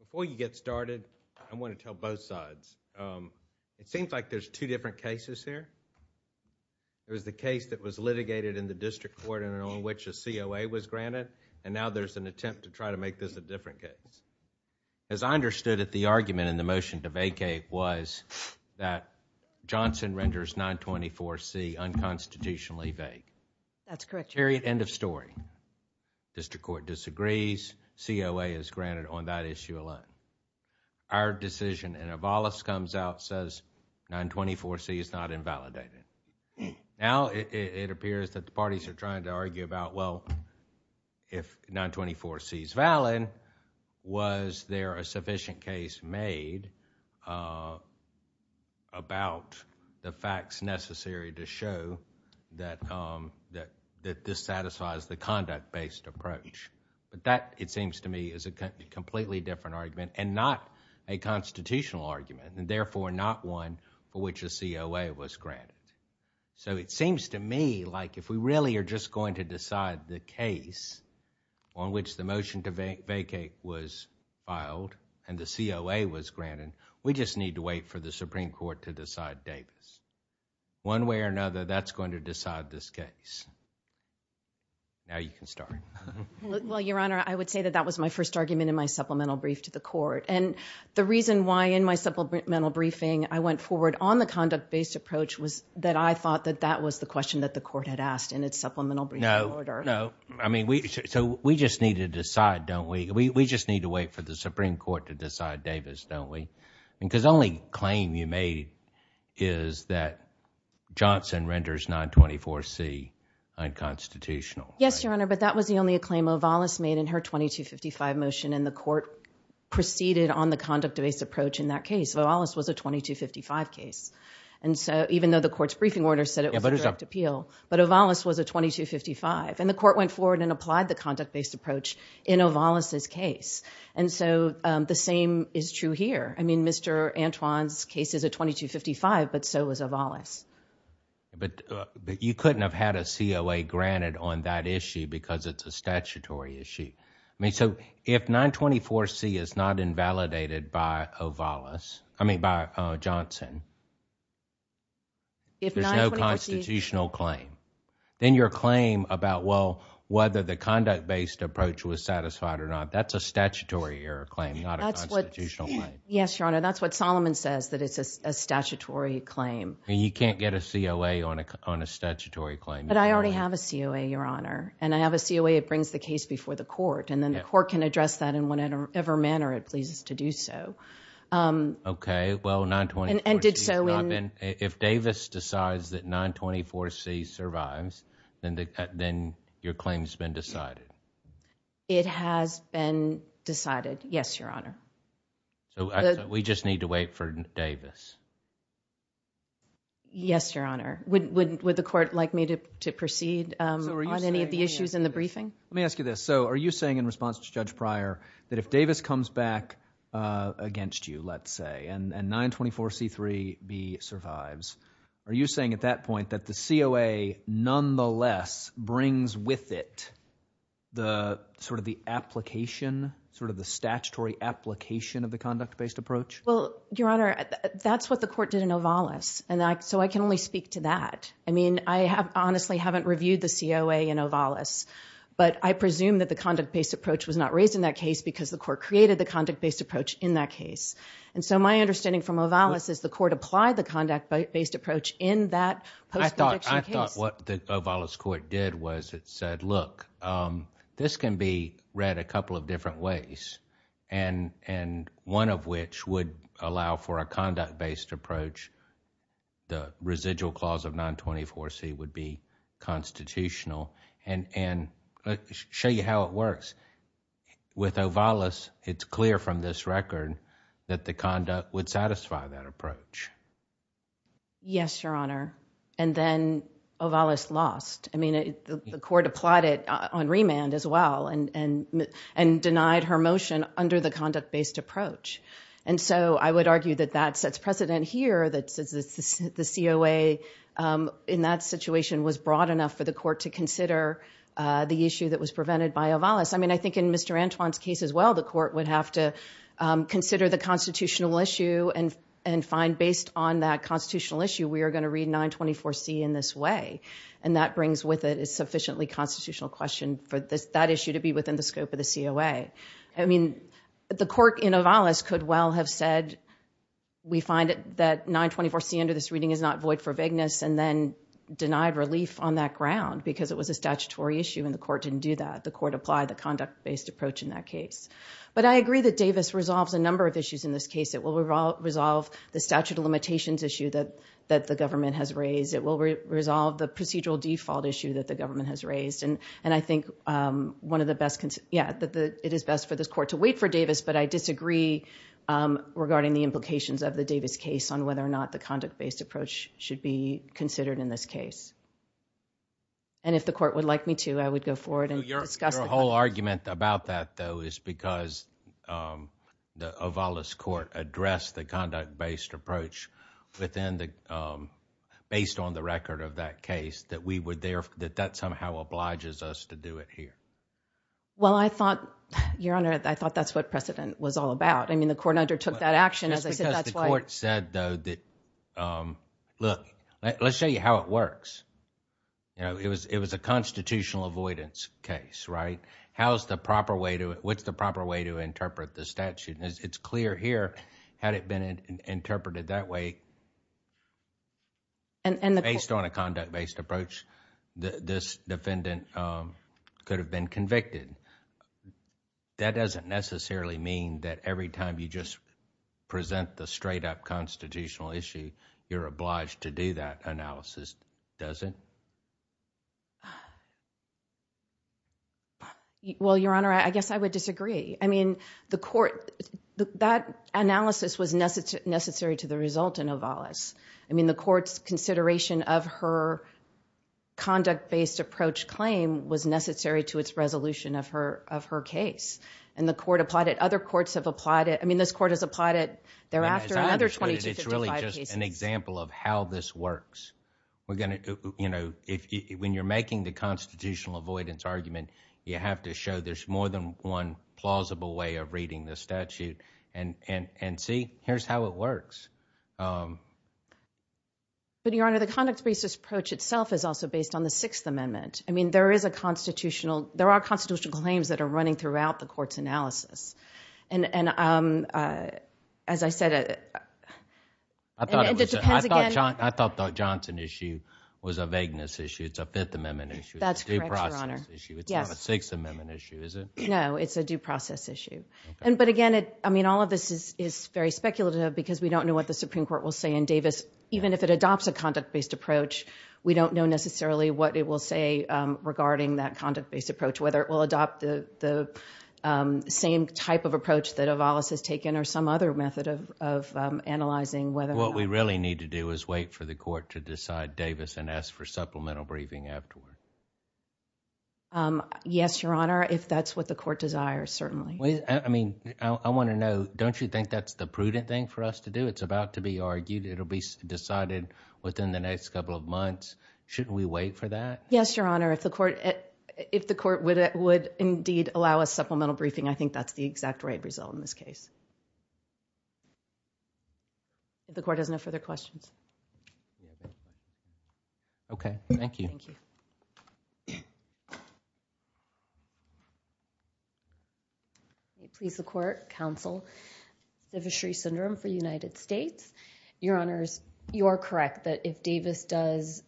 before you get started, I want to tell both sides. Um, it seems like there's two different cases here. There was the case that was litigated in the district court and on which a C. O. A. Was granted. And now there's an attempt to try to make this a different case. As I understood it, the argument in the motion to vacate was that Johnson renders 9 24 C unconstitutionally vague. That's correct. Period. End of story. District court disagrees. C. O. A. Is granted on that issue alone. Our decision and a Wallace comes out, says 9 24 C is not invalidated. Now it appears that the parties are trying to argue about, well, if 9 24 C is valid, was there a sufficient case made, uh, about the facts necessary to show that, um, that that this satisfies the conduct based approach. But that, it seems to me, is a completely different argument and not a constitutional argument and therefore not one for which a C. O. A. Was granted. So it seems to me like if we really are just going to decide the case on which the motion to vacate was filed and the C. O. A. Was granted, we just need to wait for the Supreme Court to decide Davis. One way or another, that's going to decide this case. Now you can start. Well, Your Honor, I would say that that was my first argument in my supplemental brief to the court. And the reason why in my supplemental briefing I went forward on the conduct based approach was that I thought that that was the question that the court had asked in its supplemental brief. No, no. I mean, we, so we just need to decide, don't we? We just need to wait for the Supreme Court to decide Davis, don't we? Because the only claim you made is that Johnson renders 9 24 C unconstitutional. Yes, Your Honor. But that was the only a claim Ovallis made in her 22 55 motion in the court proceeded on the conduct based approach. In that case, Ovallis was a 22 55 case. And so even though the court's briefing order said it was a direct appeal, but Ovallis was a 22 55 and the court went forward and applied the conduct based approach in Ovallis's case. And so the same is true here. I mean, Mr Antoine's case is a 22 55, but so was Ovallis. But you couldn't have had a C. O. A. Granted on that issue because it's a statutory issue. I mean, so if 9 24 C is not invalidated by Ovallis, I mean by Johnson, if there's no constitutional claim, then your claim about, well, whether the conduct based approach was satisfied or not, that's a statutory error claim, not a constitutional claim. Yes, Your Honor. That's what Solomon says, that it's a statutory claim and you can't get a C. O. A. On a, on a statutory claim. But I already have a C. O. A. Your Honor. And I have a C. O. A. It brings the court and then the court can address that in whatever manner it pleases to do so. Um, okay, well, 9 20 and did so in if Davis decides that 9 24 C survives, then, then your claim has been decided. It has been decided. Yes, Your Honor. So we just need to wait for Davis. Yes, Your Honor. Would, would, would the court like me to proceed on any of the issues in the briefing? Let me ask you this. So are you saying in response to Judge Pryor that if Davis comes back against you, let's say, and 9 24 C three B survives, are you saying at that point that the C. O. A. Nonetheless brings with it the sort of the application, sort of the statutory application of the conduct based approach? Well, Your Honor, that's what the court did in Ovallis. And so I can only speak to that. I mean, I have honestly haven't reviewed the C. O. A. And Ovallis. But I presume that the conduct based approach was not raised in that case because the court created the conduct based approach in that case. And so my understanding from Ovallis is the court applied the conduct based approach in that post. I thought what the Ovallis court did was it said, look, um, this can be read a couple of different ways and, and one of which would allow for a conduct based approach. The residual clause of 9 24 C would be constitutional and, and show you how it works with Ovallis. It's clear from this record that the conduct would satisfy that approach. Yes, Your Honor. And then Ovallis lost. I mean, the court applied it on remand as well and, and, and denied her motion under the conduct based approach. And so I would argue that that sets precedent here that the C. O. A. Um, in that situation was broad enough for the court to consider, uh, the issue that was prevented by Ovallis. I mean, I think in Mr. Antoine's case as well, the court would have to, um, consider the constitutional issue and, and find based on that constitutional issue, we are going to read 9 24 C in this way. And that brings with it is sufficiently constitutional question for this, that issue to be within the scope of the C. O. A. I mean, the court in Ovallis could well have said, we find it that 9 24 C under this reading is not void for vagueness and then denied relief on that ground because it was a statutory issue and the court didn't do that. The court applied the conduct based approach in that case. But I agree that Davis resolves a number of issues in this case. It will resolve the statute of limitations issue that, that the government has raised. It will resolve the procedural default issue that the government has raised. And, and I think, um, one of the best, yeah, that the, it is best for this court to wait for Davis, but I disagree, um, regarding the implications of the Davis case on whether or not the conduct based approach should be considered in this case. And if the court would like me to, I would go forward and discuss the whole argument about that though is because, um, the Ovallis court addressed the conduct based approach within the, um, based on the record of that case that we were there, that that somehow obliges us to do it here. Well, I thought your honor, I thought that's what precedent was all about. I mean, the court undertook that action as I said, the court said though that, um, look, let's show you how it works. You know, it was, it was a constitutional avoidance case, right? How's the proper way to, what's the proper way to interpret the statute? And it's clear here had it been interpreted that way. And, and based on a conduct based approach, this defendant, um, could have been convicted. That doesn't necessarily mean that every time you just present the straight up constitutional issue, you're obliged to do that analysis, does it? Well, your honor, I guess I would disagree. I mean, the court, that analysis was necessary to the result in Ovallis. I mean, the court's consideration of her conduct based approach claim was necessary to its resolution of her, of her case. And the court applied it. Other courts have applied it. I mean, this court has applied it thereafter. It's really just an example of how this works. We're going to, you know, if you, when you're making the constitutional avoidance argument, you have to show there's more than one plausible way of reading the statute and, and see, here's how it works. Um, but your honor, the conduct based approach itself is also based on the sixth amendment. I mean, there is a constitutional, there are constitutional claims that are running throughout the court's analysis. And, and, um, uh, as I said, I thought that Johnson issue was a vagueness issue. It's a fifth amendment issue. That's issue. It's not a sixth amendment issue, is it? No, it's a due process issue. And, but again, I mean, all of this is, is very speculative because we don't know what the Supreme Court will say in Davis. Even if it adopts a conduct based approach, we don't know necessarily what it will say, um, regarding that conduct based approach, whether it will adopt the, the, um, same type of approach that Avalos has taken or some other method of, of, um, analyzing whether what we really need to do is wait for the court to decide Davis and ask for supplemental briefing afterward. Um, yes, your honor. If that's what the court desires, certainly. I mean, I want to know, don't you think that's the prudent thing for us to do? It's about to be argued. It'll be decided within the next couple of months. Shouldn't we wait for that? Yes, your honor. If the court, if the court would, would indeed allow a supplemental briefing, I think that's the exact right result in this case. The court has no further questions. Okay. Thank you. Okay. Please. The court counsel, the fishery syndrome for United States, your honors, you're correct that if Davis does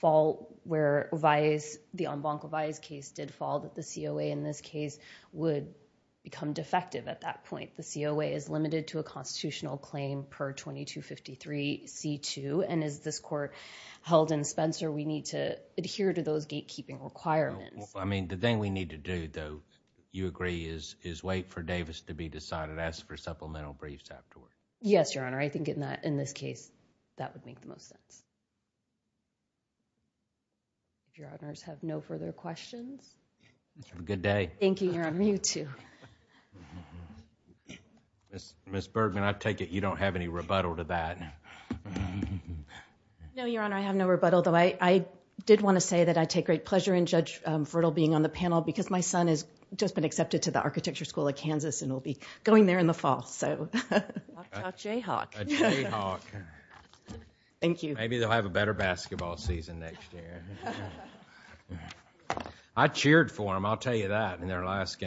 fall where vice the on bonk of eyes case did fall that the COA in this case would become defective. At that point, the COA is limited to a constitutional claim per 2253 C two. And as this court held in Spencer, we need to adhere to those gatekeeping requirements. I mean, the thing we need to do though, you agree is, is wait for Davis to be decided. Ask for supplemental briefs afterward. Yes, your honor. I think in that, in this case, that would make the most sense. Your honors have no further questions. Good day. Thank you, your honor. You too. Ms. Bergman, I take it you don't have any rebuttal to that. No, your honor. I have no rebuttal though. I did want to say that I take great pleasure in judge fertile being on the panel because my son has just been accepted to the architecture school of Kansas and we'll be going there in the fall. So Jay Hawk, thank you. Maybe they'll have a better basketball season. Yeah, I cheered for him. I'll tell you that in their last game.